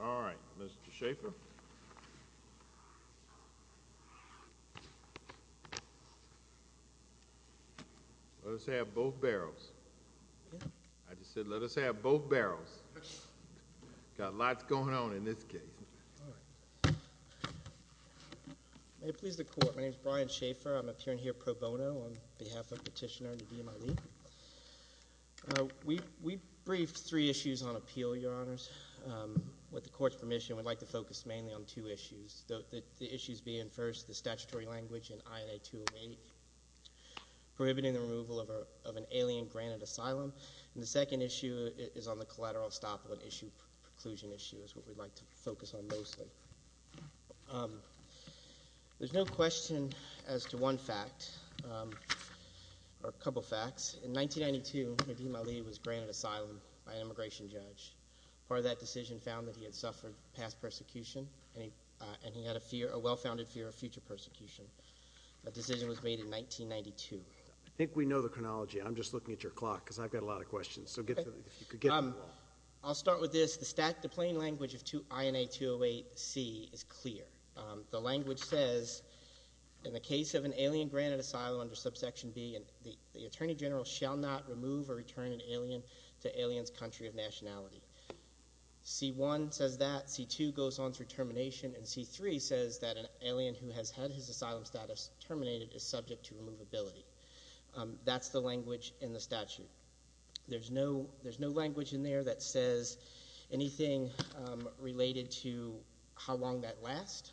All right, Mr. Schaffer. Let us have both barrels. I just said let us have both barrels. Got lots going on in this case. All right. May it please the Court, my name is Brian Schaffer. I am appearing here pro bono on behalf of Petitioner Nadeem Ali. We briefed three issues on appeal, Your Honors. With the Court's permission, we would like to focus mainly on two issues. The issues being, first, the statutory language in INA 208, prohibiting the removal of an alien granted asylum. And the second issue is on the collateral estoppelant issue, preclusion issue, is what we would like to focus on mostly. There is no question as to one fact, or a couple facts. In 1992, Nadeem Ali was granted asylum by an immigration judge. Part of that decision found that he had suffered past persecution and he had a well-founded fear of future persecution. That decision was made in 1992. I think we know the chronology. I'm just looking at your clock because I've got a lot of questions. I'll start with this. The plain language of INA 208C is clear. The language says, in the case of an alien granted asylum under subsection B, the Attorney General shall not remove or return an alien to aliens' country of nationality. C1 says that. C2 goes on through termination. And C3 says that an alien who has had his asylum status terminated is subject to removability. That's the language in the statute. There's no language in there that says anything related to how long that lasts.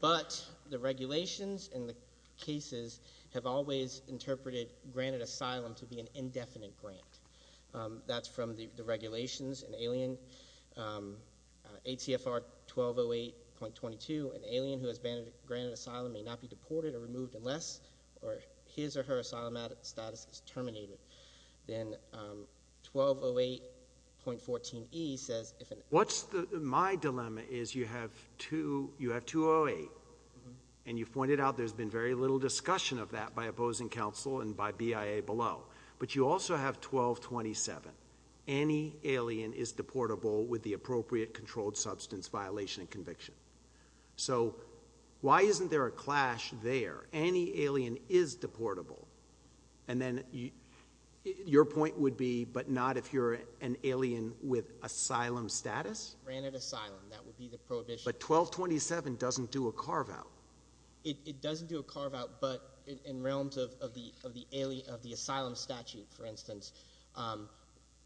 But the regulations in the cases have always interpreted granted asylum to be an indefinite grant. That's from the regulations. In ATFR 1208.22, an alien who has been granted asylum may not be deported or removed unless his or her asylum status is terminated. Then 1208.14E says if an— What's my dilemma is you have 208, and you pointed out there's been very little discussion of that by opposing counsel and by BIA below. But you also have 1227. Any alien is deportable with the appropriate controlled substance violation and conviction. So why isn't there a clash there? Any alien is deportable. And then your point would be but not if you're an alien with asylum status? Granted asylum. That would be the prohibition. But 1227 doesn't do a carve-out. It doesn't do a carve-out, but in realms of the asylum statute, for instance,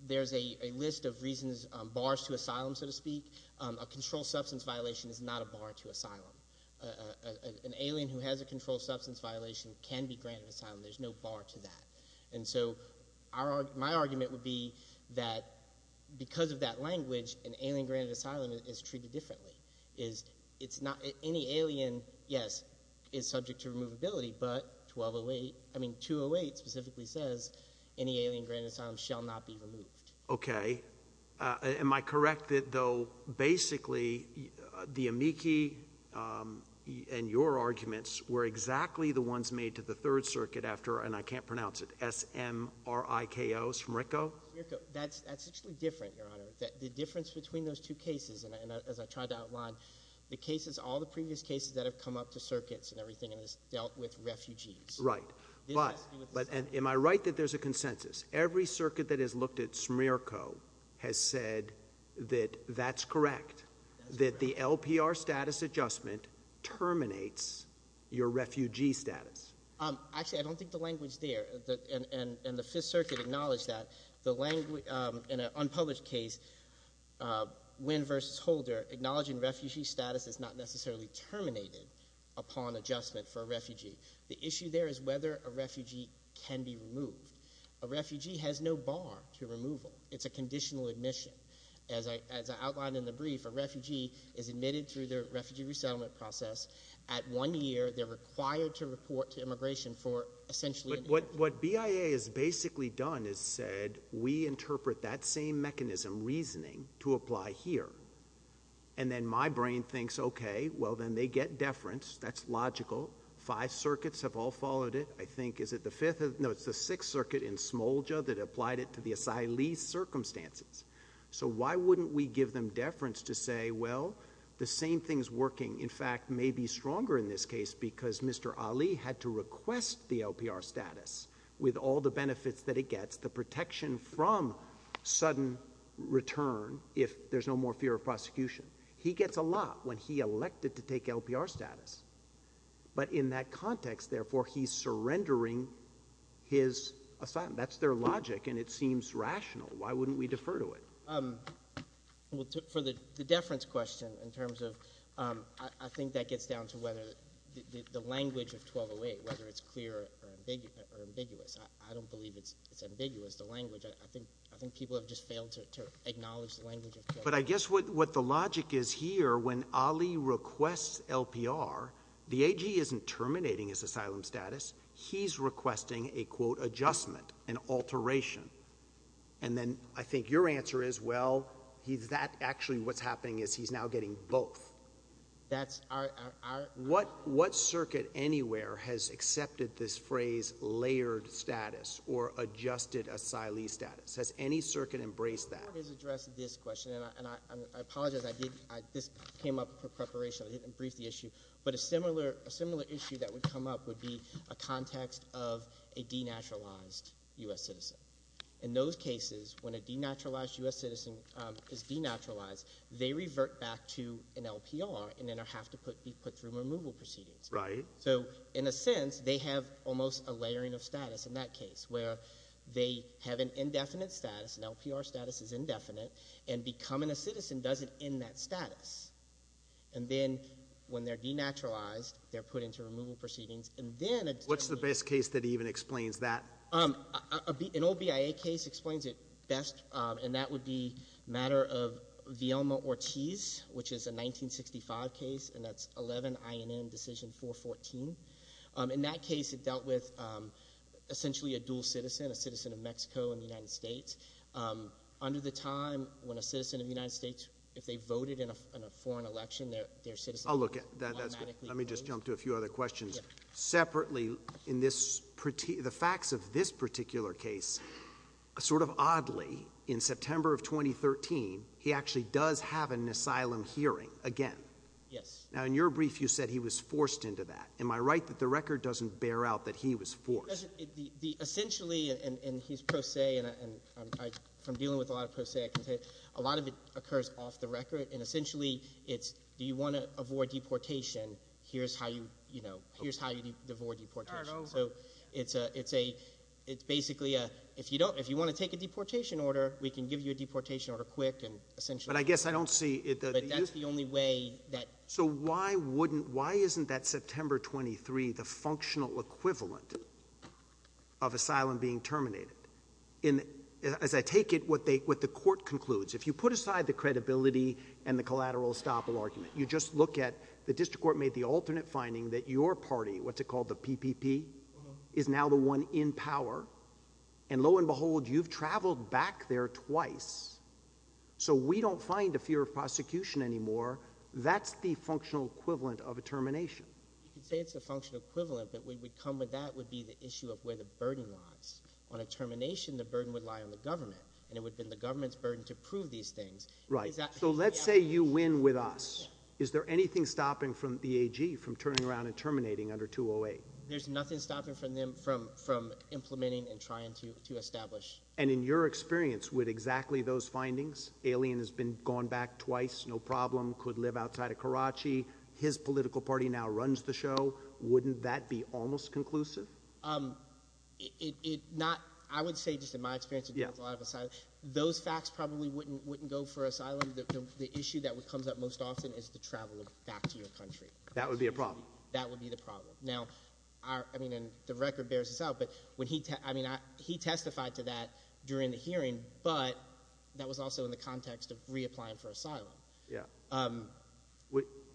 there's a list of reasons, bars to asylum, so to speak. A controlled substance violation is not a bar to asylum. An alien who has a controlled substance violation can be granted asylum. There's no bar to that. And so my argument would be that because of that language, an alien granted asylum is treated differently. Any alien, yes, is subject to removability, but 208 specifically says any alien granted asylum shall not be removed. Okay. Am I correct, though, basically the amici in your arguments were exactly the ones made to the Third Circuit after, and I can't pronounce it, S-M-R-I-K-O's from RICO? That's actually different, Your Honor. The difference between those two cases, and as I tried to outline, the cases, all the previous cases that have come up to circuits and everything has dealt with refugees. Right. But am I right that there's a consensus? Every circuit that has looked at S-M-R-I-K-O has said that that's correct, that the LPR status adjustment terminates your refugee status. Actually, I don't think the language there, and the Fifth Circuit acknowledged that. In an unpublished case, Wynn v. Holder, acknowledging refugee status is not necessarily terminated upon adjustment for a refugee. The issue there is whether a refugee can be removed. A refugee has no bar to removal. It's a conditional admission. As I outlined in the brief, a refugee is admitted through their refugee resettlement process. At one year, they're required to report to immigration for, essentially— But what BIA has basically done is said, we interpret that same mechanism, reasoning, to apply here. And then my brain thinks, okay, well, then they get deference. That's logical. Five circuits have all followed it. I think, is it the Fifth—no, it's the Sixth Circuit in Smolja that applied it to the asylee's circumstances. So why wouldn't we give them deference to say, well, the same thing is working. In fact, maybe stronger in this case because Mr. Ali had to request the LPR status with all the benefits that it gets, the protection from sudden return if there's no more fear of prosecution. He gets a lot when he elected to take LPR status. But in that context, therefore, he's surrendering his asylum. That's their logic, and it seems rational. Why wouldn't we defer to it? For the deference question in terms of—I think that gets down to whether the language of 1208, whether it's clear or ambiguous. I don't believe it's ambiguous, the language. I think people have just failed to acknowledge the language of 1208. But I guess what the logic is here, when Ali requests LPR, the AG isn't terminating his asylum status. He's requesting a, quote, adjustment, an alteration. And then I think your answer is, well, that actually what's happening is he's now getting both. That's our— What circuit anywhere has accepted this phrase layered status or adjusted asylee status? Has any circuit embraced that? The court has addressed this question, and I apologize. This came up in preparation. I didn't brief the issue. But a similar issue that would come up would be a context of a denaturalized U.S. citizen. In those cases, when a denaturalized U.S. citizen is denaturalized, they revert back to an LPR and then have to be put through removal proceedings. Right. So in a sense, they have almost a layering of status in that case, where they have an indefinite status. An LPR status is indefinite. And becoming a citizen doesn't end that status. And then when they're denaturalized, they're put into removal proceedings. And then— What's the best case that even explains that? An old BIA case explains it best, and that would be a matter of Villalma-Ortiz, which is a 1965 case, and that's 11 INM Decision 414. In that case, it dealt with essentially a dual citizen, a citizen of Mexico and the United States. Under the time when a citizen of the United States, if they voted in a foreign election, their citizen— I'll look at it. That's good. Let me just jump to a few other questions. Separately, in this—the facts of this particular case, sort of oddly, in September of 2013, he actually does have an asylum hearing again. Yes. Now, in your brief, you said he was forced into that. Am I right that the record doesn't bear out that he was forced? Essentially, and he's pro se, and from dealing with a lot of pro se, I can tell you a lot of it occurs off the record. And essentially, it's do you want to avoid deportation? Here's how you avoid deportation. Turn it over. So it's basically a—if you want to take a deportation order, we can give you a deportation order quick and essentially— But I guess I don't see— But that's the only way that— So why wouldn't—why isn't that September 23 the functional equivalent of asylum being terminated? As I take it, what the court concludes, if you put aside the credibility and the collateral estoppel argument, you just look at the district court made the alternate finding that your party, what's it called, the PPP, is now the one in power. And lo and behold, you've traveled back there twice. So we don't find a fear of prosecution anymore. That's the functional equivalent of a termination. You could say it's a functional equivalent, but we would come with that would be the issue of where the burden lies. On a termination, the burden would lie on the government, and it would be the government's burden to prove these things. Right. So let's say you win with us. Is there anything stopping the AG from turning around and terminating under 208? And in your experience, would exactly those findings—alien has been gone back twice, no problem, could live outside of Karachi, his political party now runs the show—wouldn't that be almost conclusive? It—not—I would say just in my experience— Yeah. Those facts probably wouldn't go for asylum. The issue that comes up most often is the travel back to your country. That would be a problem. That would be the problem. Now, I mean, and the record bears this out, but when he—I mean, he testified to that during the hearing, but that was also in the context of reapplying for asylum. Yeah.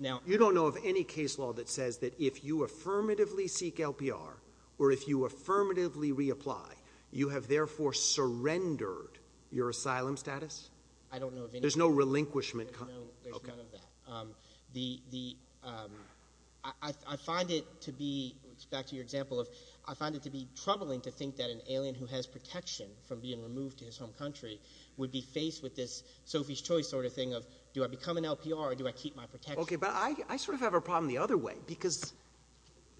Now— You don't know of any case law that says that if you affirmatively seek LPR or if you affirmatively reapply, you have therefore surrendered your asylum status? I don't know of any. There's no relinquishment— There's none of that. Okay. The—I find it to be—back to your example of—I find it to be troubling to think that an alien who has protection from being removed to his home country would be faced with this Sophie's Choice sort of thing of, do I become an LPR or do I keep my protection? Okay, but I sort of have a problem the other way because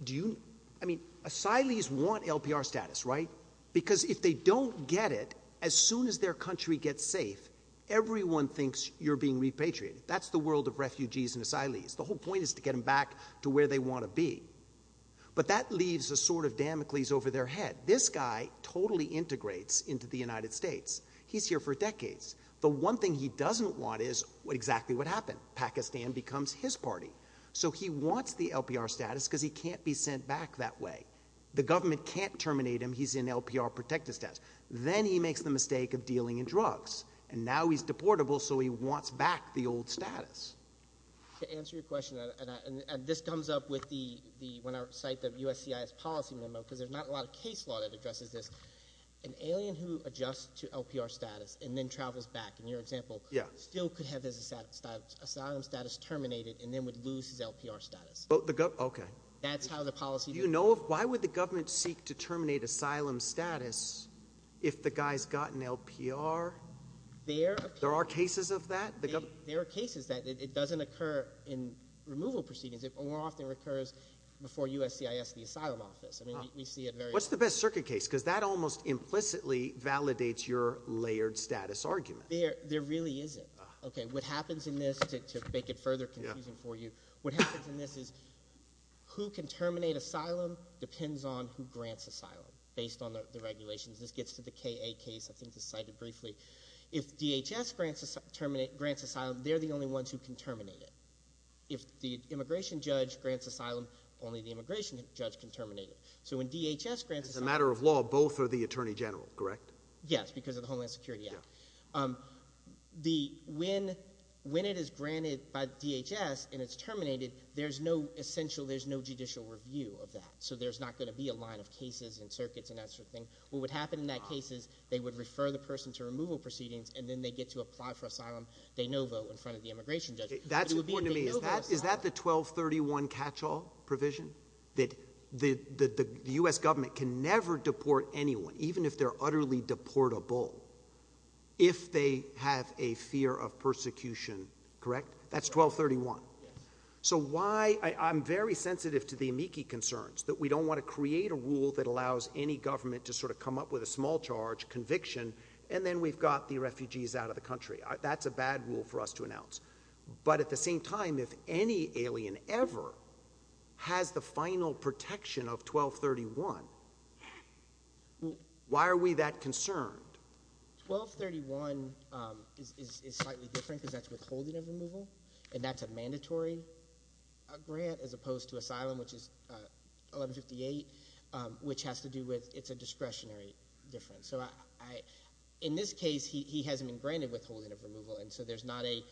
do you—I mean, asylees want LPR status, right? Because if they don't get it, as soon as their country gets safe, everyone thinks you're being repatriated. That's the world of refugees and asylees. The whole point is to get them back to where they want to be. But that leaves a sort of Damocles over their head. This guy totally integrates into the United States. He's here for decades. The one thing he doesn't want is exactly what happened. Pakistan becomes his party. So he wants the LPR status because he can't be sent back that way. The government can't terminate him. He's in LPR protected status. Then he makes the mistake of dealing in drugs, and now he's deportable so he wants back the old status. To answer your question, and this comes up with the—when I cite the USCIS policy memo because there's not a lot of case law that addresses this, an alien who adjusts to LPR status and then travels back, in your example, still could have his asylum status terminated and then would lose his LPR status. Okay. That's how the policy— Do you know of—why would the government seek to terminate asylum status if the guy's got an LPR? There are cases of that. There are cases that it doesn't occur in removal proceedings. It more often occurs before USCIS, the asylum office. I mean, we see it very often. What's the best circuit case? Because that almost implicitly validates your layered status argument. There really isn't. Okay. What happens in this, to make it further confusing for you, what happens in this is who can terminate asylum depends on who grants asylum based on the regulations. This gets to the KA case. I think it's cited briefly. If DHS grants asylum, they're the only ones who can terminate it. If the immigration judge grants asylum, only the immigration judge can terminate it. So when DHS grants asylum— As a matter of law, both are the attorney general, correct? Yes, because of the Homeland Security Act. When it is granted by DHS and it's terminated, there's no essential—there's no judicial review of that. So there's not going to be a line of cases and circuits and that sort of thing. What would happen in that case is they would refer the person to removal proceedings, and then they get to apply for asylum de novo in front of the immigration judge. That's important to me. Is that the 1231 catch-all provision? That the U.S. government can never deport anyone, even if they're utterly deportable, if they have a fear of persecution, correct? That's 1231. Yes. So why—I'm very sensitive to the amici concerns, that we don't want to create a rule that allows any government to sort of come up with a small charge, conviction, and then we've got the refugees out of the country. That's a bad rule for us to announce. But at the same time, if any alien ever has the final protection of 1231, why are we that concerned? 1231 is slightly different because that's withholding of removal, and that's a mandatory grant as opposed to asylum, which is 1158, which has to do with it's a discretionary difference. So in this case, he hasn't been granted withholding of removal, and so there's not a—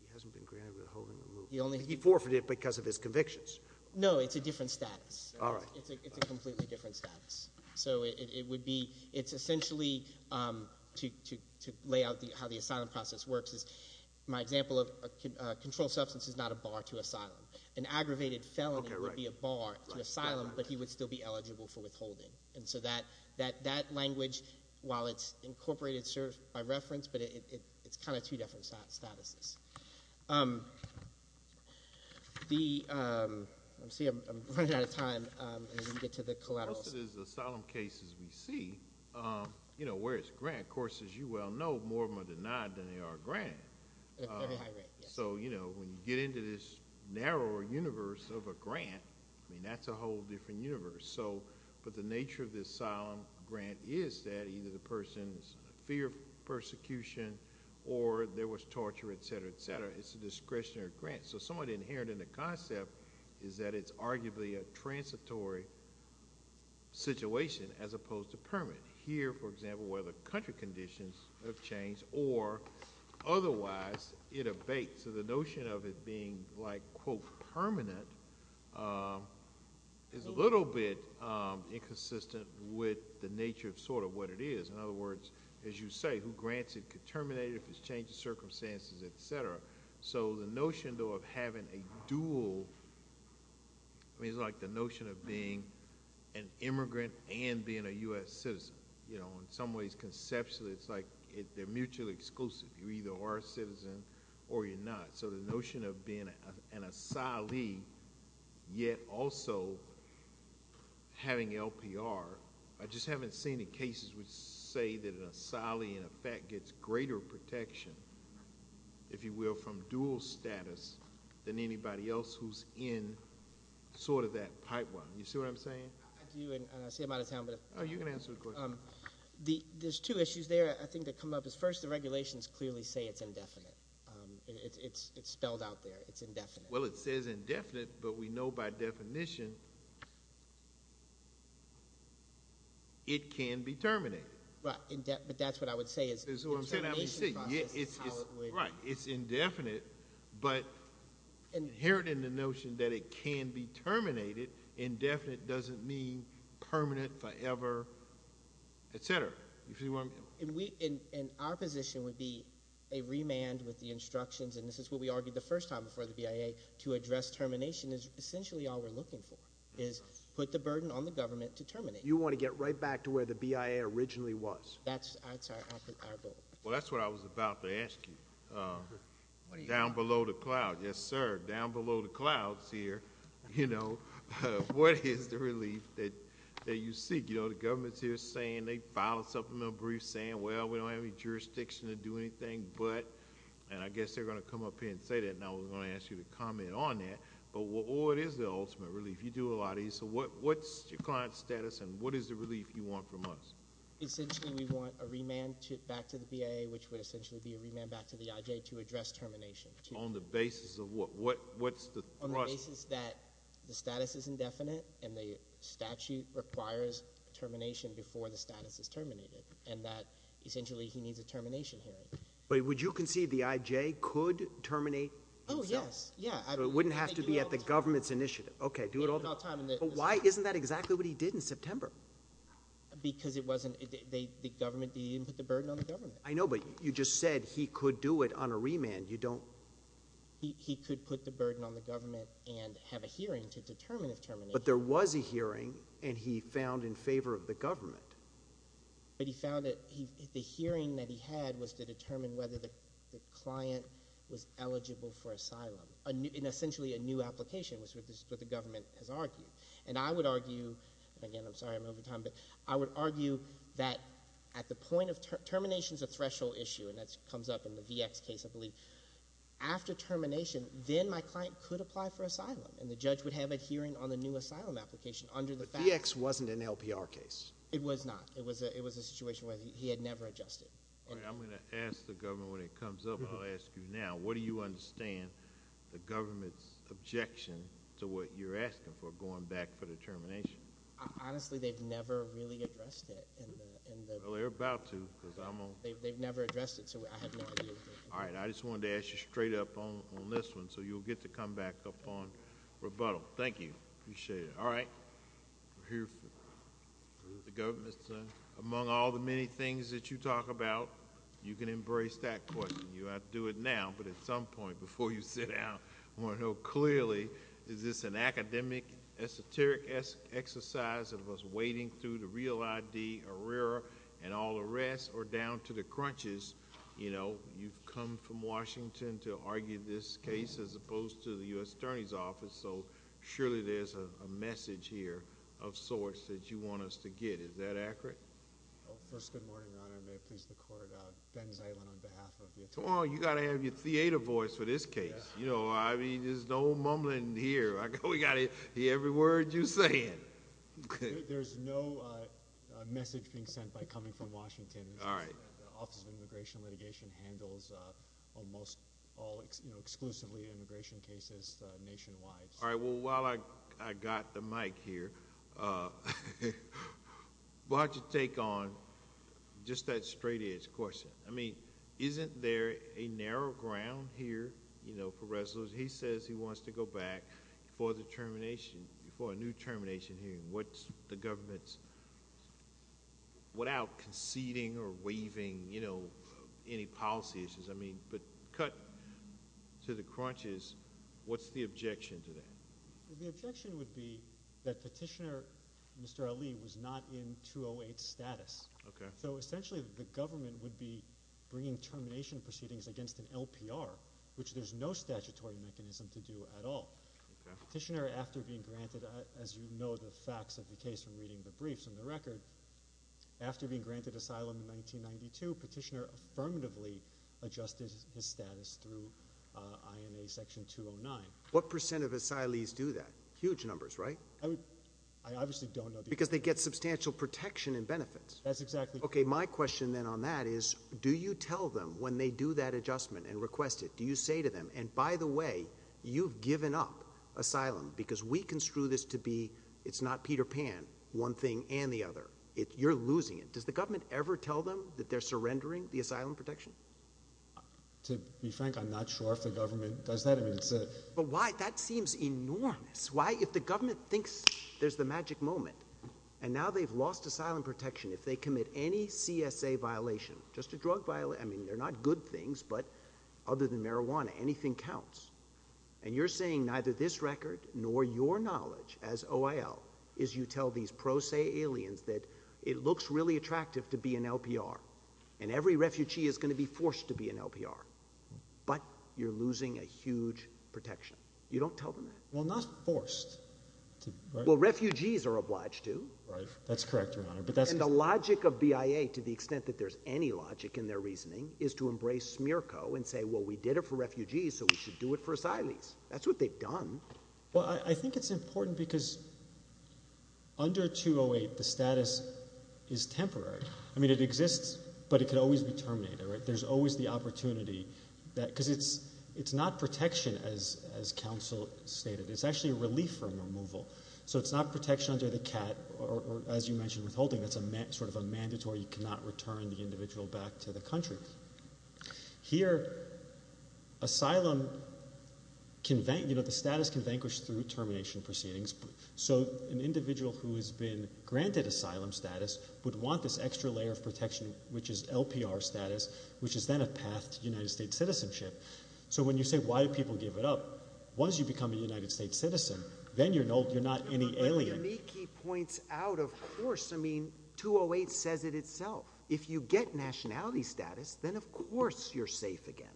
He hasn't been granted withholding of removal. He forfeited because of his convictions. No, it's a different status. It's a completely different status. So it would be—it's essentially, to lay out how the asylum process works, is my example of a controlled substance is not a bar to asylum. An aggravated felony would be a bar to asylum, but he would still be eligible for withholding. And so that language, while it's incorporated by reference, but it's kind of two different statuses. The—let's see, I'm running out of time. Let me get to the collateral. So most of these asylum cases we see, you know, where it's grant, of course, as you well know, more of them are denied than they are granted. At a very high rate, yes. So, you know, when you get into this narrower universe of a grant, I mean, that's a whole different universe. So—but the nature of this asylum grant is that either the person's fear of persecution or there was torture, etc., etc. It's a discretionary grant. So somewhat inherent in the concept is that it's arguably a transitory situation as opposed to permanent. Here, for example, where the country conditions have changed or otherwise it abates. So the notion of it being, like, quote, permanent is a little bit inconsistent with the nature of sort of what it is. In other words, as you say, who grants it could terminate it if it's changed circumstances, etc. So the notion, though, of having a dual—I mean, it's like the notion of being an immigrant and being a U.S. citizen. You know, in some ways, conceptually, it's like they're mutually exclusive. You either are a citizen or you're not. So the notion of being an asylee yet also having LPR, I just haven't seen any cases which say that an asylee, in effect, gets greater protection, if you will, from dual status than anybody else who's in sort of that pipeline. You see what I'm saying? I do, and I see I'm out of time. Oh, you can answer the question. There's two issues there, I think, that come up. First, the regulations clearly say it's indefinite. It's spelled out there. It's indefinite. Well, it says indefinite, but we know by definition it can be terminated. Right, but that's what I would say. That's what I'm saying. Right, it's indefinite, but inherent in the notion that it can be terminated, indefinite doesn't mean permanent, forever, et cetera. And our position would be a remand with the instructions, and this is what we argued the first time before the BIA, to address termination is essentially all we're looking for, is put the burden on the government to terminate. You want to get right back to where the BIA originally was. That's our goal. Well, that's what I was about to ask you. Down below the clouds. Yes, sir. Down below the clouds here, you know, what is the relief that you seek? You know, the government's here saying they filed a supplemental brief saying, well, we don't have any jurisdiction to do anything, but, and I guess they're going to come up here and say that, and I was going to ask you to comment on that, but what is the ultimate relief? You do a lot of these. So what's your client's status, and what is the relief you want from us? Essentially, we want a remand back to the BIA, which would essentially be a remand back to the IJ to address termination. On the basis of what? What's the thrust? On the basis that the status is indefinite, and the statute requires termination before the status is terminated, and that essentially he needs a termination hearing. But would you concede the IJ could terminate himself? Oh, yes. So it wouldn't have to be at the government's initiative. Okay, do it all the time. But why isn't that exactly what he did in September? Because it wasn't, the government, he didn't put the burden on the government. I know, but you just said he could do it on a remand. You don't. He could put the burden on the government and have a hearing to determine if termination. But there was a hearing, and he found in favor of the government. But he found that the hearing that he had was to determine whether the client was eligible for asylum, and essentially a new application was what the government has argued. And I would argue, and again, I'm sorry I'm over time, but I would argue that at the point of, termination is a threshold issue, and that comes up in the VX case, I believe. After termination, then my client could apply for asylum, and the judge would have a hearing on the new asylum application under the facts. But VX wasn't an LPR case. It was not. It was a situation where he had never adjusted. All right, I'm going to ask the government when it comes up, and I'll ask you now. What do you understand the government's objection to what you're asking for, going back for the termination? Honestly, they've never really addressed it. Well, they're about to. They've never addressed it, so I have no idea. All right, I just wanted to ask you straight up on this one, so you'll get to come back upon rebuttal. Thank you. Appreciate it. All right. We're here for the government. Among all the many things that you talk about, you can embrace that question. You ought to do it now, but at some point, before you sit down, I want to know clearly, is this an academic, esoteric exercise of us wading through the real ID, ARERA, and all the rest, or down to the crunches? You've come from Washington to argue this case, as opposed to the U.S. Attorney's Office, so surely there's a message here of sorts that you want us to get. Is that accurate? First, good morning, Your Honor. May it please the Court. Ben Zaylin on behalf of the Attorney General. Come on, you've got to have your theater voice for this case. I mean, there's no mumbling here. We've got to hear every word you're saying. There's no message being sent by coming from Washington. The Office of Immigration and Litigation handles almost all exclusively immigration cases nationwide. All right, well, while I've got the mic here, why don't you take on just that straight-edge question. I mean, isn't there a narrow ground here, you know, for resolution? He says he wants to go back for the termination, for a new termination hearing. What's the government's, without conceding or waiving, you know, any policy issues, I mean, but cut to the crunches, what's the objection to that? The objection would be that Petitioner Mr. Ali was not in 208 status. So essentially the government would be bringing termination proceedings against an LPR, which there's no statutory mechanism to do at all. Petitioner, after being granted, as you know, the facts of the case from reading the briefs and the record, after being granted asylum in 1992, Petitioner affirmatively adjusted his status through INA Section 209. What percent of asylees do that? Huge numbers, right? I obviously don't know. Because they get substantial protection and benefits. That's exactly right. Okay, my question then on that is, do you tell them when they do that adjustment and request it, do you say to them, and by the way, you've given up asylum because we construe this to be, it's not Peter Pan, one thing and the other. You're losing it. Does the government ever tell them that they're surrendering the asylum protection? To be frank, I'm not sure if the government does that. But why? That seems enormous. Why? If the government thinks there's the magic moment, and now they've lost asylum protection, if they commit any CSA violation, just a drug violation, I mean, they're not good things, but other than marijuana, anything counts. And you're saying neither this record nor your knowledge as OIL is you tell these pro se aliens that it looks really attractive to be in LPR, and every refugee is going to be forced to be in LPR, but you're losing a huge protection. You don't tell them that? Well, not forced. That's correct, Your Honor. And the logic of BIA, to the extent that there's any logic in their reasoning, is to embrace SMERCO and say, well, we did it for refugees, so we should do it for asylees. That's what they've done. Well, I think it's important because under 208, the status is temporary. I mean, it exists, but it could always be terminated. There's always the opportunity because it's not protection, as counsel stated. It's actually a relief from removal. So it's not protection under the CAT or, as you mentioned, withholding. That's sort of a mandatory. You cannot return the individual back to the country. Here, asylum, you know, the status can vanquish through termination proceedings. So an individual who has been granted asylum status would want this extra layer of protection, which is LPR status, which is then a path to United States citizenship. So when you say, why do people give it up? Once you become a United States citizen, then you're not any alien. But what Yaniki points out, of course, I mean, 208 says it itself. If you get nationality status, then of course you're safe again.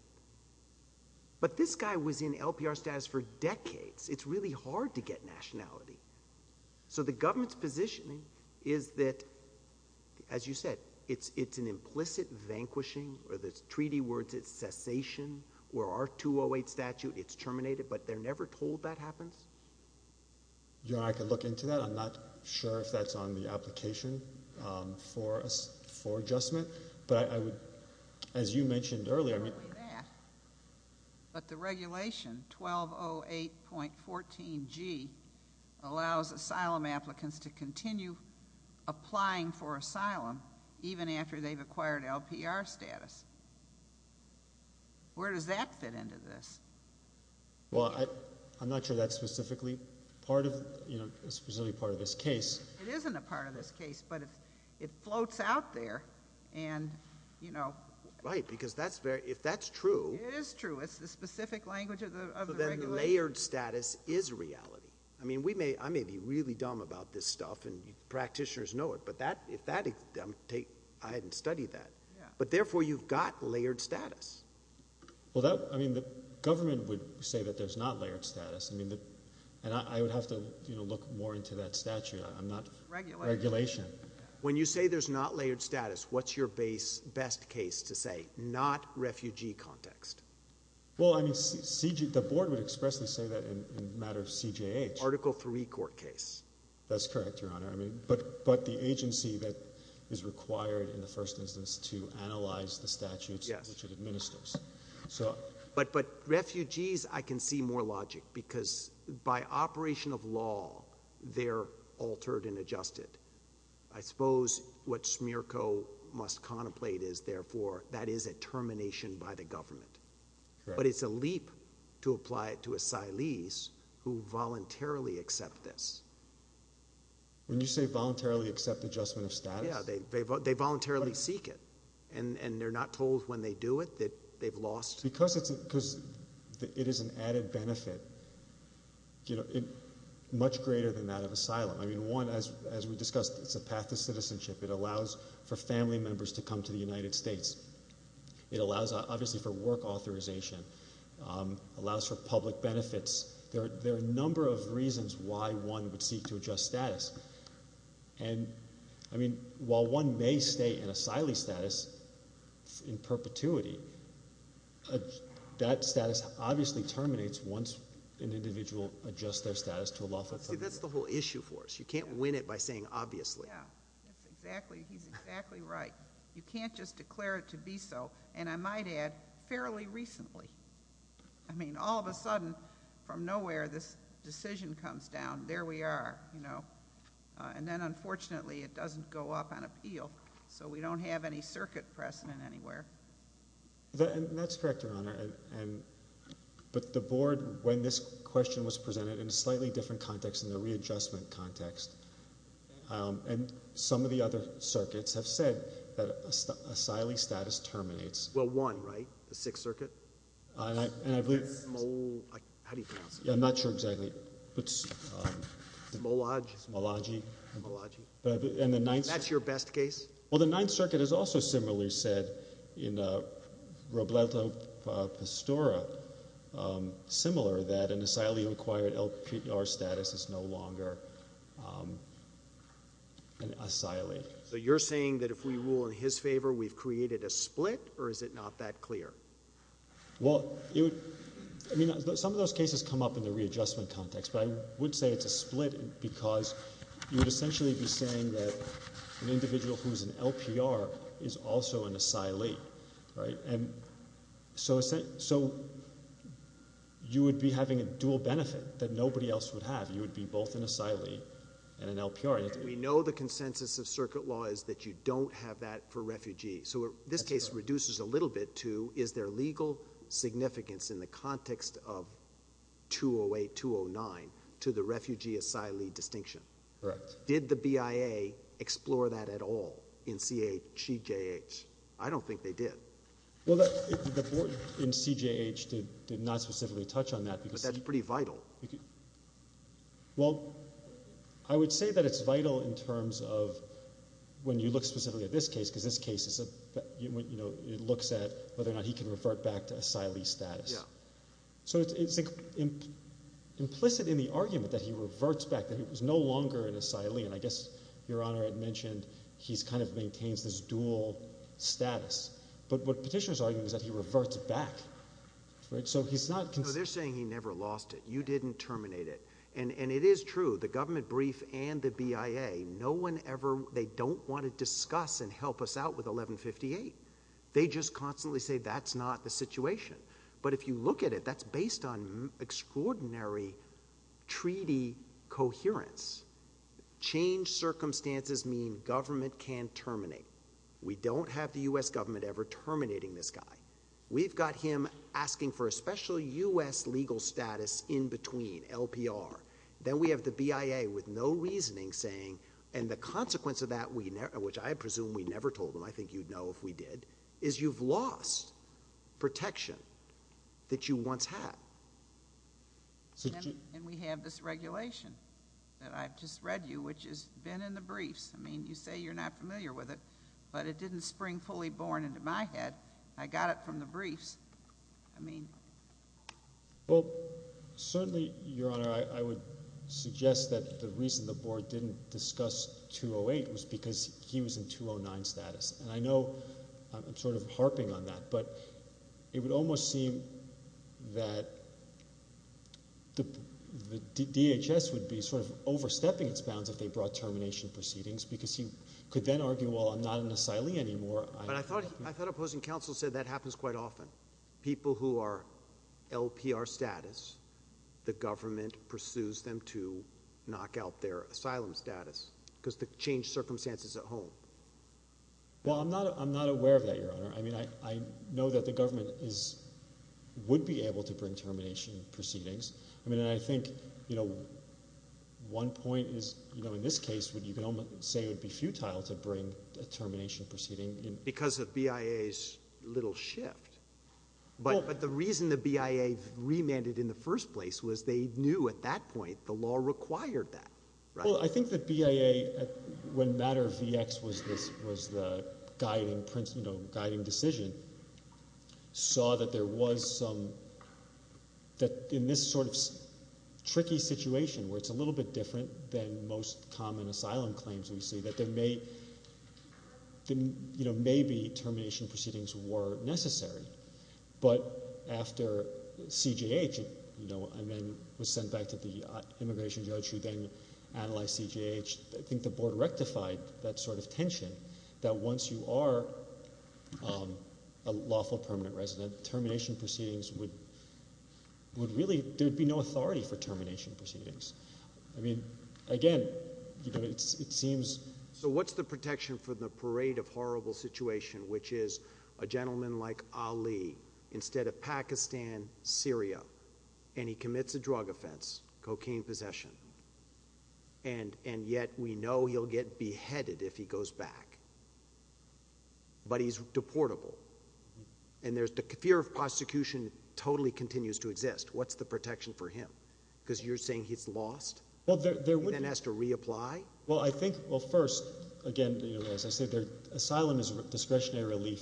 But this guy was in LPR status for decades. It's really hard to get nationality. So the government's positioning is that, as you said, it's an implicit vanquishing, or the treaty words, it's cessation, where our 208 statute, it's terminated. But they're never told that happens? You know, I can look into that. I'm not sure if that's on the application for adjustment. But I would, as you mentioned earlier, I mean— Not only that, but the regulation, 1208.14G, allows asylum applicants to continue applying for asylum even after they've acquired LPR status. Where does that fit into this? Well, I'm not sure that's specifically part of this case. It isn't a part of this case, but it floats out there and, you know— Right, because if that's true— It is true. It's the specific language of the regulation. Layered status is reality. I mean, I may be really dumb about this stuff, and practitioners know it, but if that—I hadn't studied that. But therefore, you've got layered status. Well, I mean, the government would say that there's not layered status, and I would have to look more into that statute. I'm not— Regulation. Regulation. When you say there's not layered status, what's your best case to say? Not refugee context. Well, I mean, the board would expressly say that in the matter of CJH. Article III court case. That's correct, Your Honor. I mean, but the agency that is required in the first instance to analyze the statutes which it administers. But refugees, I can see more logic, because by operation of law, they're altered and adjusted. I suppose what SMERCO must contemplate is, therefore, that is a termination by the government. But it's a leap to apply it to asylees who voluntarily accept this. When you say voluntarily accept adjustment of status? Yeah, they voluntarily seek it, and they're not told when they do it that they've lost— Because it is an added benefit, much greater than that of asylum. I mean, one, as we discussed, it's a path to citizenship. It allows for family members to come to the United States. It allows, obviously, for work authorization. It allows for public benefits. There are a number of reasons why one would seek to adjust status. I mean, while one may stay in asylee status in perpetuity, that status obviously terminates once an individual adjusts their status to a lawful— See, that's the whole issue for us. You can't win it by saying obviously. Yeah, that's exactly—he's exactly right. You can't just declare it to be so. And I might add, fairly recently. I mean, all of a sudden, from nowhere, this decision comes down. There we are. And then, unfortunately, it doesn't go up on appeal, so we don't have any circuit precedent anywhere. That's correct, Your Honor. But the board, when this question was presented, in a slightly different context, in a readjustment context, and some of the other circuits have said that asylee status terminates. Well, one, right? The Sixth Circuit? And I believe— How do you pronounce it? I'm not sure exactly. Molagi? Molagi. That's your best case? Well, the Ninth Circuit has also similarly said, in Robledo Pastora, similar, that an asylee who acquired LPR status is no longer an asylee. So you're saying that if we rule in his favor, we've created a split, or is it not that clear? Well, some of those cases come up in the readjustment context, but I would say it's a split because you would essentially be saying that an individual who's an LPR is also an asylee, right? So you would be having a dual benefit that nobody else would have. You would be both an asylee and an LPR. We know the consensus of circuit law is that you don't have that for refugees. So this case reduces a little bit to, is there legal significance in the context of 208, 209, to the refugee-asylee distinction? Correct. Did the BIA explore that at all in CHJH? I don't think they did. Well, the board in CHJH did not specifically touch on that. But that's pretty vital. Well, I would say that it's vital in terms of when you look specifically at this case because this case looks at whether or not he can revert back to asylee status. Yeah. So it's implicit in the argument that he reverts back, that he was no longer an asylee, and I guess Your Honor had mentioned he kind of maintains this dual status. But what Petitioner's arguing is that he reverts back, right? So he's not— No, they're saying he never lost it. You didn't terminate it. And it is true, the government brief and the BIA, no one ever—they don't want to discuss and help us out with 1158. They just constantly say that's not the situation. But if you look at it, that's based on extraordinary treaty coherence, change circumstances mean government can terminate. We don't have the U.S. government ever terminating this guy. We've got him asking for a special U.S. legal status in between, LPR. Then we have the BIA with no reasoning saying, and the consequence of that, which I presume we never told them, I think you'd know if we did, is you've lost protection that you once had. And we have this regulation that I've just read you, which has been in the briefs. I mean, you say you're not familiar with it, but it didn't spring fully born into my head. I got it from the briefs. I mean— Well, certainly, Your Honor, I would suggest that the reason the board didn't discuss 208 was because he was in 209 status. And I know I'm sort of harping on that, but it would almost seem that the DHS would be sort of overstepping its bounds if they brought termination proceedings because he could then argue, well, I'm not an asylee anymore. But I thought Opposing Counsel said that happens quite often. People who are LPR status, the government pursues them to knock out their asylum status because they've changed circumstances at home. Well, I'm not aware of that, Your Honor. I mean, I know that the government would be able to bring termination proceedings. I mean, I think, you know, one point is, you know, in this case, you can say it would be futile to bring a termination proceeding. Because of BIA's little shift. But the reason the BIA remanded in the first place was they knew at that point the law required that. Well, I think that BIA, when Matter VX was the guiding decision, saw that there was some, that in this sort of tricky situation where it's a little bit different than most common asylum claims we see, that there may be termination proceedings were necessary. But after CGH was sent back to the Immigration Judge who then analyzed CGH, I think the Board rectified that sort of tension, that once you are a lawful permanent resident, termination proceedings would really, there would be no authority for termination proceedings. I mean, again, you know, it seems. So what's the protection for the parade of horrible situation, which is a gentleman like Ali, instead of Pakistan, Syria, and he commits a drug offense, cocaine possession, and yet we know he'll get beheaded if he goes back. But he's deportable. And there's the fear of prosecution totally continues to exist. What's the protection for him? Because you're saying he's lost? He then has to reapply? Well, I think, well, first, again, as I said, asylum is discretionary relief,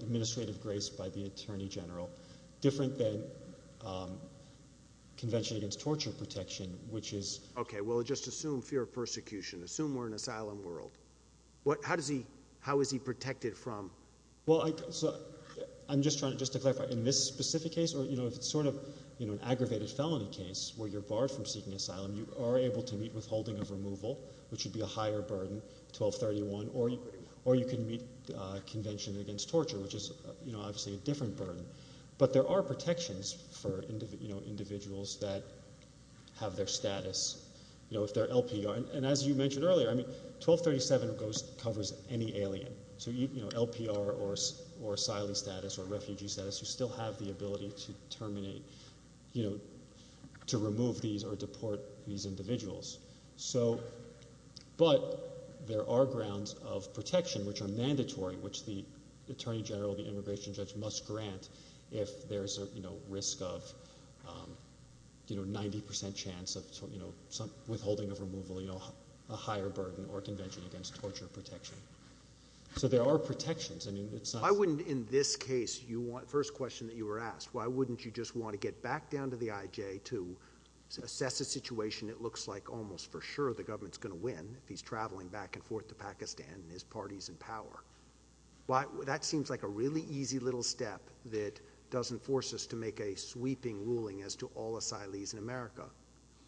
administrative grace by the Attorney General, different than Convention Against Torture Protection, which is... Okay, well, just assume fear of persecution. Assume we're in an asylum world. How is he protected from... Well, I'm just trying to clarify, in this specific case, or, you know, if it's sort of an aggravated felony case where you're barred from seeking asylum, you are able to meet withholding of removal, which would be a higher burden, 1231, or you can meet Convention Against Torture, which is, you know, obviously a different burden. But there are protections for individuals that have their status, you know, if they're LPR. And as you mentioned earlier, I mean, 1237 covers any alien. So, you know, LPR or asylum status or refugee status, you still have the ability to terminate, you know, to remove these or deport these individuals. So, but there are grounds of protection which are mandatory, which the Attorney General, the immigration judge, must grant if there's a, you know, risk of, you know, 90% chance of, you know, withholding of removal, you know, a higher burden or Convention Against Torture protection. So there are protections. I mean, it's not... Why wouldn't, in this case, you want... First question that you were asked, why wouldn't you just want to get back down to the IJ to assess a situation that looks like almost for sure the government's going to win if he's travelling back and forth to Pakistan and his party's in power? That seems like a really easy little step that doesn't force us to make a sweeping ruling as to all asylees in America.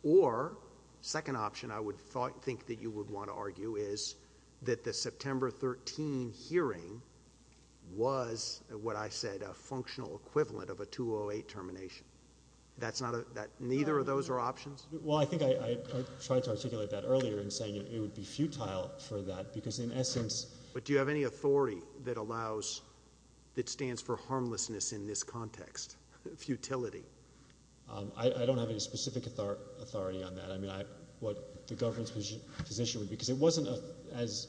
Or, second option I would think that you would want to argue is that the September 13 hearing was, what I said, a functional equivalent of a 208 termination. That's not a... neither of those are options? Well, I think I tried to articulate that earlier in saying it would be futile for that because, in essence... But do you have any authority that allows... that stands for harmlessness in this context, futility? I don't have any specific authority on that. I mean, I... what the government's position would be. Because it wasn't a... as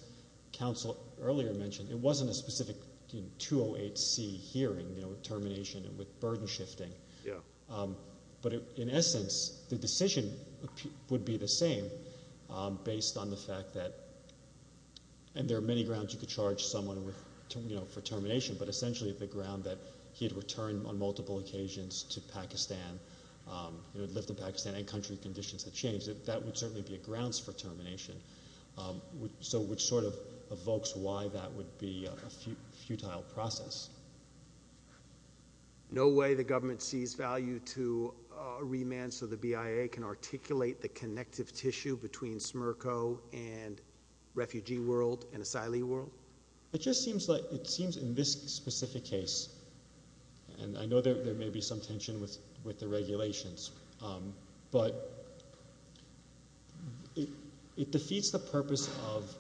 counsel earlier mentioned, it wasn't a specific 208C hearing, you know, with termination and with burden shifting. Yeah. But, in essence, the decision would be the same based on the fact that... and there are many grounds you could charge someone with... you know, for termination, but essentially the ground that he had returned on multiple occasions to Pakistan. He had lived in Pakistan and country conditions had changed. That would certainly be a grounds for termination. So, which sort of evokes why that would be a futile process. No way the government sees value to remand so the BIA can articulate the connective tissue between SMERCO and refugee world and asylee world? It just seems like... it seems in this specific case... and I know there may be some tension with the regulations, but... it defeats the purpose of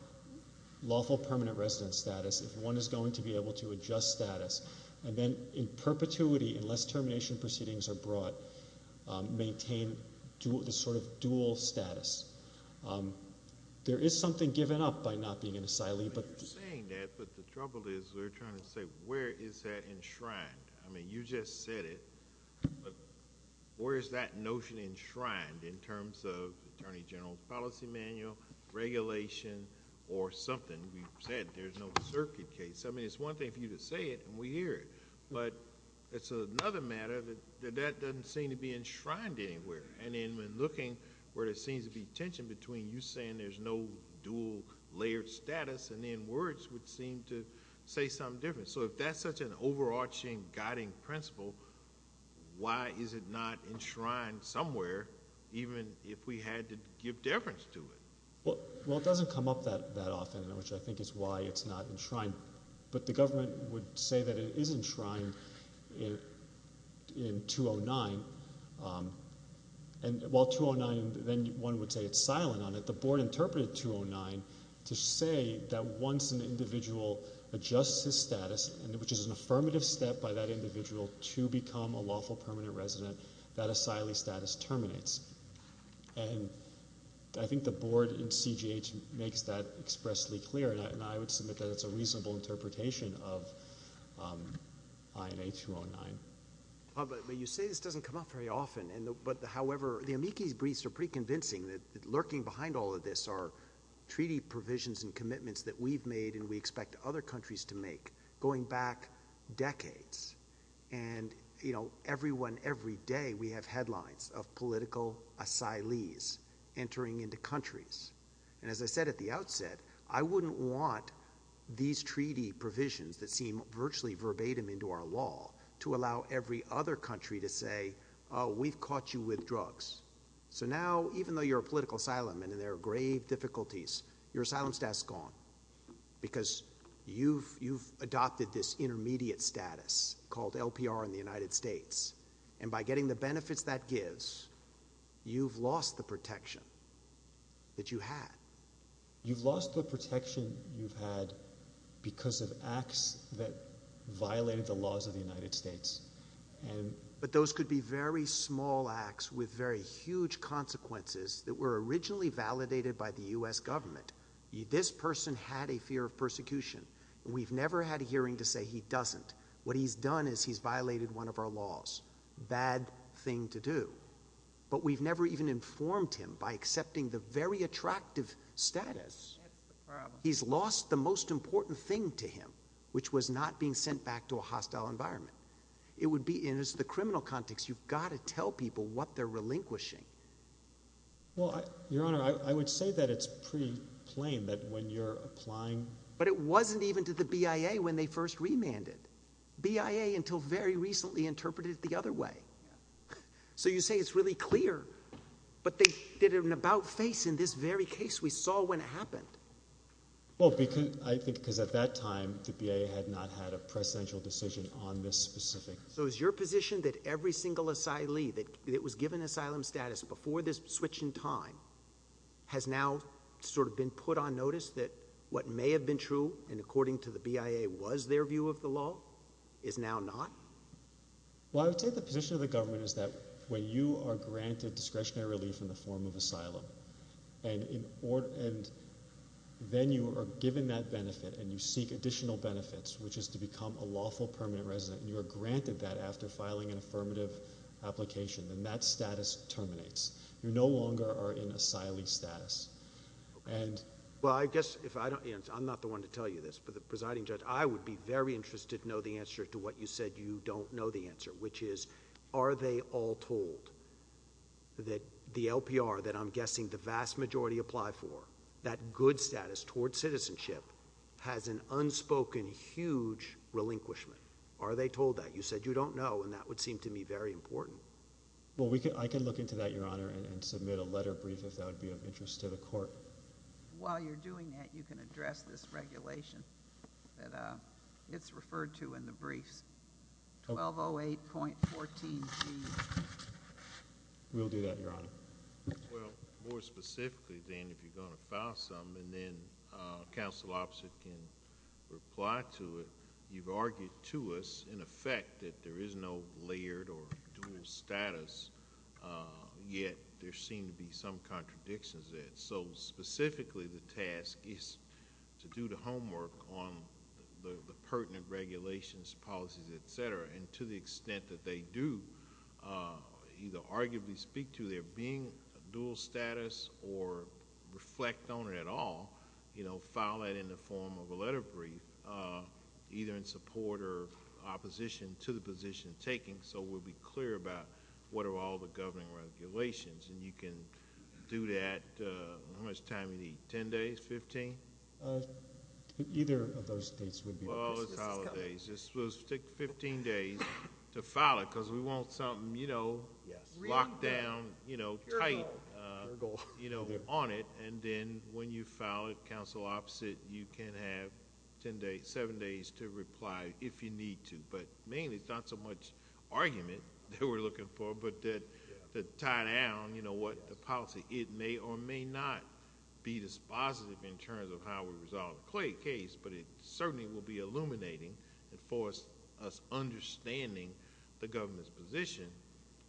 lawful permanent resident status if one is going to be able to adjust status. And then, in perpetuity, unless termination proceedings are brought, maintain the sort of dual status. There is something given up by not being an asylee, but... You're saying that, but the trouble is we're trying to say, where is that enshrined? I mean, you just said it, but where is that notion enshrined in terms of Attorney General's policy manual, regulation, or something? You said there's no circuit case. I mean, it's one thing for you to say it, and we hear it, but it's another matter that that doesn't seem to be enshrined anywhere. And then, when looking where there seems to be tension between you saying there's no dual-layered status and then words would seem to say something different. So, if that's such an overarching guiding principle, why is it not enshrined somewhere, even if we had to give deference to it? Well, it doesn't come up that often, which I think is why it's not enshrined. But the government would say that it is enshrined in 209. And while 209, then one would say it's silent on it, the board interpreted 209 to say that once an individual adjusts his status, which is an affirmative step by that individual to become a lawful permanent resident, that asylee status terminates. And I think the board in CGH makes that expressly clear, and I would submit that it's a reasonable interpretation of INA 209. You say this doesn't come up very often, but, however, the amici briefs are pretty convincing that lurking behind all of this are treaty provisions and commitments that we've made and we expect other countries to make going back decades. And, you know, everyone, every day we have headlines of political asylees entering into countries. And as I said at the outset, I wouldn't want these treaty provisions that seem virtually verbatim into our law to allow every other country to say, oh, we've caught you with drugs. So now, even though you're a political asylum and there are grave difficulties, your asylum status is gone because you've adopted this intermediate status called LPR in the United States, and by getting the benefits that gives, you've lost the protection that you had. You've lost the protection you've had because of acts that violated the laws of the United States. But those could be very small acts with very huge consequences that were originally validated by the U.S. government. This person had a fear of persecution. We've never had a hearing to say he doesn't. What he's done is he's violated one of our laws. Bad thing to do. But we've never even informed him by accepting the very attractive status. He's lost the most important thing to him, which was not being sent back to a hostile environment. In the criminal context, you've got to tell people what they're relinquishing. Your Honor, I would say that it's pretty plain that when you're applying. But it wasn't even to the BIA when they first remanded. BIA until very recently interpreted it the other way. So you say it's really clear, but they did an about-face in this very case. We saw when it happened. Well, I think because at that time the BIA had not had a precedential decision on this specific. So is your position that every single asylee that was given asylum status before this switch in time has now sort of been put on notice that what may have been true and according to the BIA was their view of the law is now not? Well, I would say the position of the government is that when you are granted discretionary relief in the form of asylum and then you are given that benefit and you seek additional benefits, which is to become a lawful permanent resident, and you are granted that after filing an affirmative application, then that status terminates. You no longer are in asylee status. Well, I guess if I don't answer, I'm not the one to tell you this, but the presiding judge, I would be very interested to know the answer to what you said you don't know the answer, which is are they all told that the LPR that I'm guessing the vast majority apply for, that good status toward citizenship, has an unspoken huge relinquishment. Are they told that? You said you don't know, and that would seem to me very important. Well, I can look into that, Your Honor, and submit a letter brief if that would be of interest to the court. While you're doing that, you can address this regulation that it's referred to in the briefs. 1208.14b. We'll do that, Your Honor. Well, more specifically, Dan, if you're going to file something, then counsel opposite can reply to it. You've argued to us, in effect, that there is no layered or dual status, yet there seem to be some contradictions there. Specifically, the task is to do the homework on the pertinent regulations, policies, et cetera, and to the extent that they do either arguably speak to there being a dual status or reflect on it at all, file that in the form of a letter brief, either in support or opposition to the position taken so we'll be clear about what are all the governing regulations. And you can do that. How much time do you need? Ten days? Fifteen? Either of those dates would be fine. Well, it's holidays. We'll take 15 days to file it because we want something locked down, you know, tight on it. And then when you file it, counsel opposite, you can have seven days to reply if you need to. But mainly, it's not so much argument that we're looking for, but to tie down, you know what, the policy. It may or may not be dispositive in terms of how we resolve the Clay case, but it certainly will be illuminating for us understanding the government's position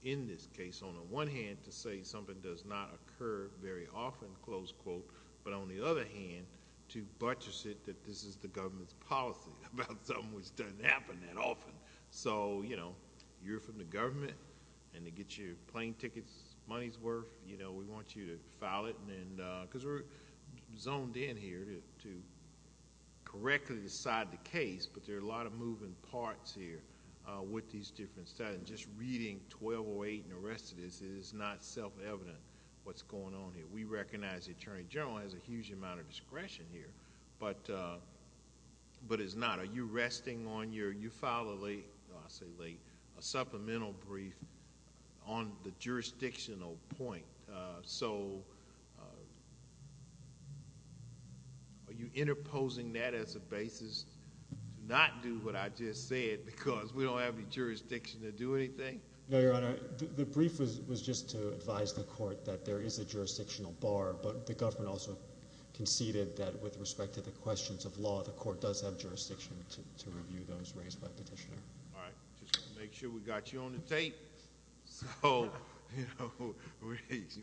in this case, on the one hand, to say something does not occur very often, close quote, but on the other hand, to buttress it that this is the government's policy about something which doesn't happen that often. So, you know, you're from the government, and to get your plane tickets' money's worth, you know, we want you to file it because we're zoned in here to correctly decide the case, but there are a lot of moving parts here with these different statutes. Just reading 1208 and the rest of this, it is not self-evident what's going on here. We recognize the Attorney General has a huge amount of discretion here, but it's not. Are you resting on your you filed a late, I say late, a supplemental brief on the jurisdictional point? So are you interposing that as a basis to not do what I just said because we don't have any jurisdiction to do anything? No, Your Honor. The brief was just to advise the court that there is a jurisdictional bar, but the government also conceded that with respect to the questions of law, the court does have jurisdiction to review those raised by the petitioner. All right. Just want to make sure we got you on the tape so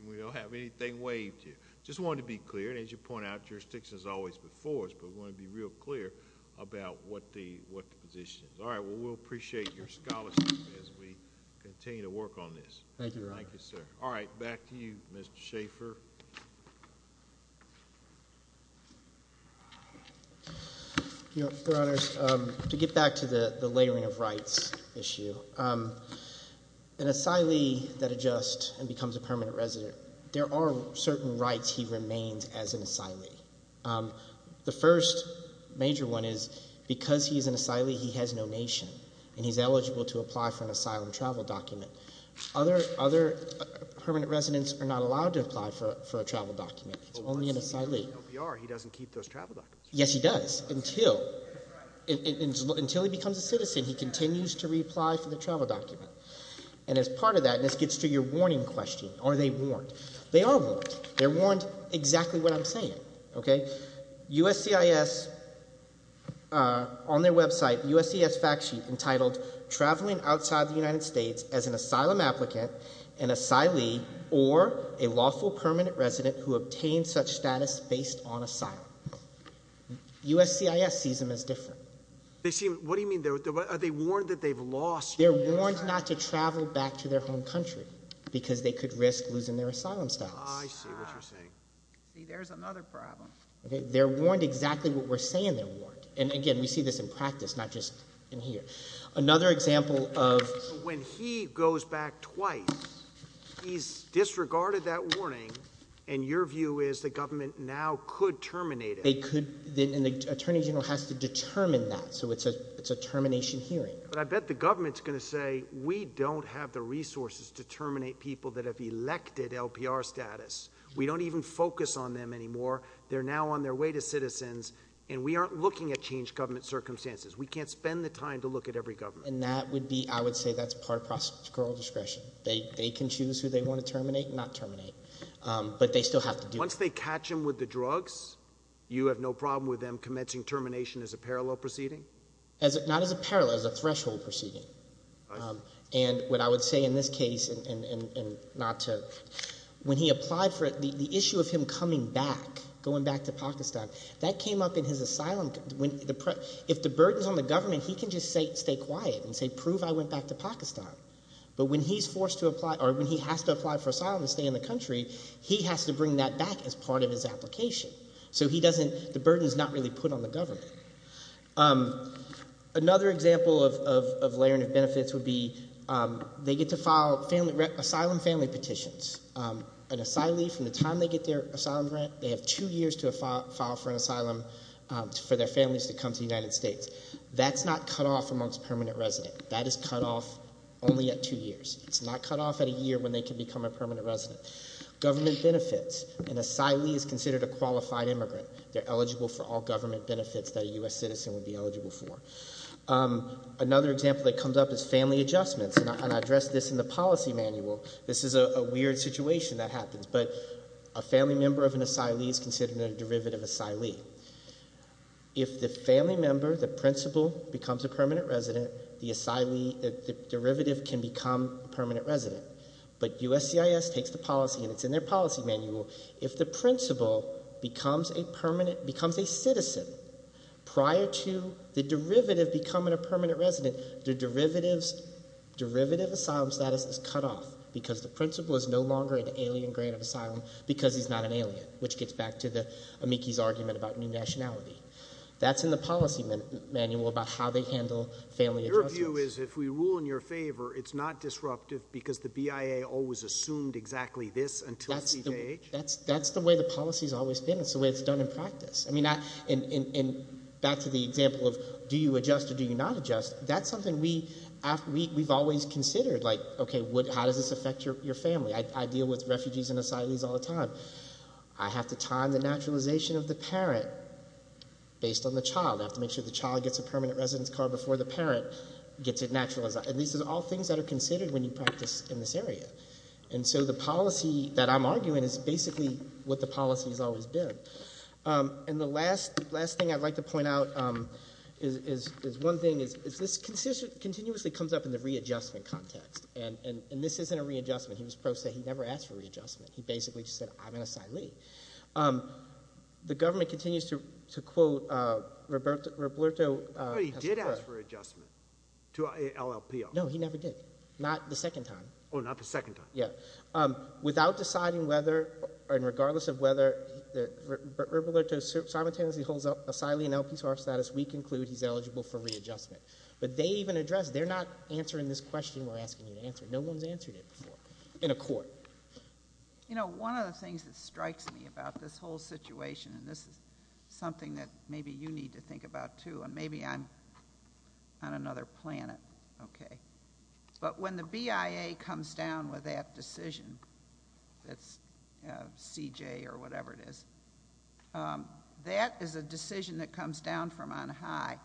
we don't have anything waived here. Just wanted to be clear, and as you point out, jurisdiction is always before us, but we want to be real clear about what the position is. All right. Well, we'll appreciate your scholarship as we continue to work on this. Thank you, Your Honor. Thank you, sir. All right. Back to you, Mr. Schaffer. Your Honors, to get back to the layering of rights issue, an asylee that adjusts and becomes a permanent resident, there are certain rights he remains as an asylee. The first major one is because he's an asylee, he has no nation, and he's eligible to apply for an asylum travel document. Other permanent residents are not allowed to apply for a travel document. He's only an asylee. He doesn't keep those travel documents. Yes, he does. Until he becomes a citizen, he continues to reapply for the travel document. And as part of that, and this gets to your warning question, are they warned? They are warned. They're warned exactly what I'm saying. USCIS, on their website, USCIS fact sheet entitled, Traveling Outside the United States as an Asylum Applicant, an Asylee, or a Lawful Permanent Resident who Obtained Such Status Based on Asylum. USCIS sees them as different. What do you mean? Are they warned that they've lost? They're warned not to travel back to their home country because they could risk losing their asylum status. I see what you're saying. See, there's another problem. They're warned exactly what we're saying they're warned. And, again, we see this in practice, not just in here. Another example of— When he goes back twice, he's disregarded that warning, and your view is the government now could terminate it. They could, and the Attorney General has to determine that. So it's a termination hearing. But I bet the government's going to say, we don't have the resources to terminate people that have elected LPR status. We don't even focus on them anymore. They're now on their way to citizens, and we aren't looking at changed government circumstances. We can't spend the time to look at every government. And that would be—I would say that's part of procedural discretion. They can choose who they want to terminate and not terminate. But they still have to do it. Once they catch him with the drugs, you have no problem with them commencing termination as a parallel proceeding? Not as a parallel, as a threshold proceeding. And what I would say in this case, and not to— the issue of him coming back, going back to Pakistan, that came up in his asylum. If the burden's on the government, he can just stay quiet and say, prove I went back to Pakistan. But when he's forced to apply—or when he has to apply for asylum to stay in the country, he has to bring that back as part of his application. So he doesn't—the burden's not really put on the government. Another example of layering of benefits would be they get to file asylum family petitions. An asylee, from the time they get their asylum grant, they have two years to file for an asylum for their families to come to the United States. That's not cut off amongst permanent residents. That is cut off only at two years. It's not cut off at a year when they can become a permanent resident. Government benefits. An asylee is considered a qualified immigrant. They're eligible for all government benefits that a U.S. citizen would be eligible for. Another example that comes up is family adjustments. And I address this in the policy manual. This is a weird situation that happens. But a family member of an asylee is considered a derivative asylee. If the family member, the principal, becomes a permanent resident, the asylee—the derivative can become a permanent resident. But USCIS takes the policy, and it's in their policy manual. If the principal becomes a permanent—becomes a citizen prior to the derivative becoming a permanent resident, the derivative asylum status is cut off because the principal is no longer an alien grant of asylum because he's not an alien, which gets back to the amici's argument about new nationality. That's in the policy manual about how they handle family adjustments. Your view is if we rule in your favor, it's not disruptive because the BIA always assumed exactly this until CJH? That's the way the policy has always been. It's the way it's done in practice. And back to the example of do you adjust or do you not adjust, that's something we've always considered. Like, okay, how does this affect your family? I deal with refugees and asylees all the time. I have to time the naturalization of the parent based on the child. I have to make sure the child gets a permanent residence card before the parent gets it naturalized. And these are all things that are considered when you practice in this area. And so the policy that I'm arguing is basically what the policy has always been. And the last thing I'd like to point out is one thing is this continuously comes up in the readjustment context. And this isn't a readjustment. He was pro se. He never asked for readjustment. He basically just said I'm an asylee. The government continues to quote Roberto. Oh, he did ask for adjustment to LLPR. No, he never did. Not the second time. Oh, not the second time. Without deciding whether and regardless of whether Roberto simultaneously holds up asylee and LPR status, we conclude he's eligible for readjustment. But they even address it. They're not answering this question we're asking you to answer. No one's answered it before in a court. You know, one of the things that strikes me about this whole situation, and this is something that maybe you need to think about, too, and maybe I'm on another planet, okay. But when the BIA comes down with that decision, that's CJ or whatever it is, that is a decision that comes down from on high.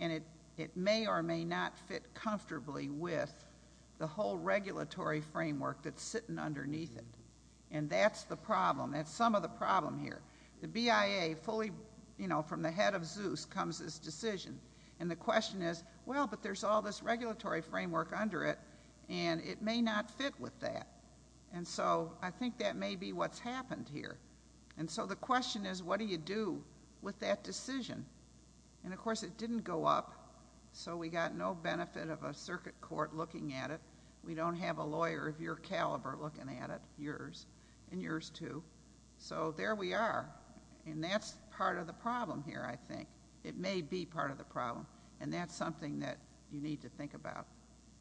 And it may or may not fit comfortably with the whole regulatory framework that's sitting underneath it. And that's the problem. That's some of the problem here. The BIA fully, you know, from the head of Zeus comes this decision. And the question is, well, but there's all this regulatory framework under it, and it may not fit with that. And so I think that may be what's happened here. And so the question is, what do you do with that decision? And, of course, it didn't go up, so we got no benefit of a circuit court looking at it. We don't have a lawyer of your caliber looking at it, yours, and yours, too. So there we are. And that's part of the problem here, I think. It may be part of the problem. And that's something that you need to think about.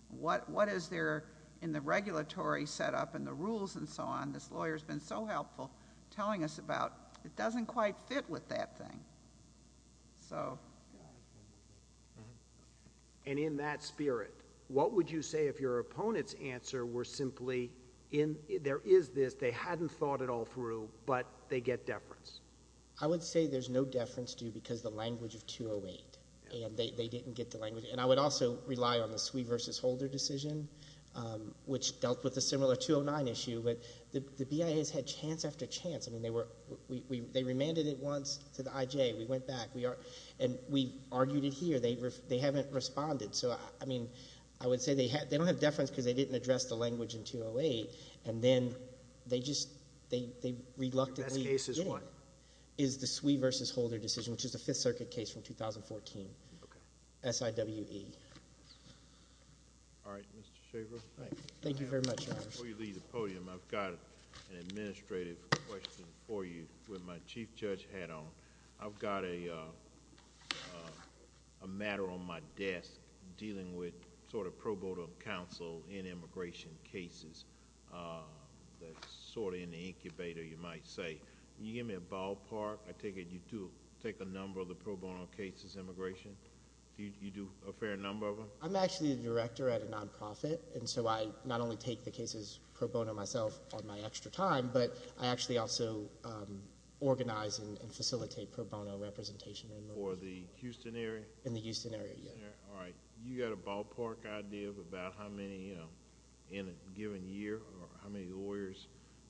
What is there in the regulatory setup and the rules and so on, this lawyer's been so helpful telling us about, it doesn't quite fit with that thing. So. And in that spirit, what would you say if your opponent's answer were simply, there is this, they hadn't thought it all through, but they get deference? I would say there's no deference due because the language of 208, and they didn't get the language. And I would also rely on the Sui versus Holder decision, which dealt with a similar 209 issue. But the BIAs had chance after chance. I mean, they remanded it once to the IJ. We went back. And we argued it here. They haven't responded. So, I mean, I would say they don't have deference because they didn't address the language in 208, and then they just, they reluctantly adjoined. The best case is what? Is the Sui versus Holder decision, which is the Fifth Circuit case from 2014. Okay. SIWE. All right, Mr. Schaefer. Thank you very much, Your Honor. Before you leave the podium, I've got an administrative question for you with my chief judge hat on. I've got a matter on my desk dealing with sort of pro bono counsel in immigration cases. That's sort of in the incubator, you might say. Can you give me a ballpark? I take it you do take a number of the pro bono cases in immigration? You do a fair number of them? I'm actually the director at a nonprofit, and so I not only take the cases pro bono myself on my extra time, but I actually also organize and facilitate pro bono representation in immigration. For the Houston area? In the Houston area, yes. All right. You got a ballpark idea of about how many in a given year or how many lawyers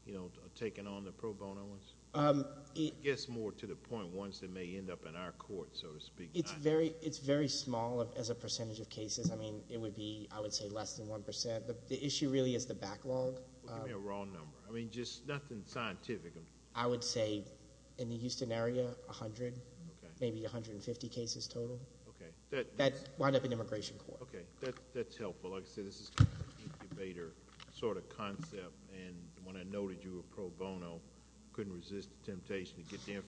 are taking on the pro bono ones? I guess more to the point ones that may end up in our court, so to speak. It's very small as a percentage of cases. I mean, it would be, I would say, less than 1%. The issue really is the backlog. Give me a raw number. I mean, just nothing scientific. I would say in the Houston area, 100, maybe 150 cases total. Okay. That would end up in immigration court. Okay. That's helpful. Like I said, this is kind of an incubator sort of concept, and when I noted you were pro bono, I couldn't resist the temptation to get the information.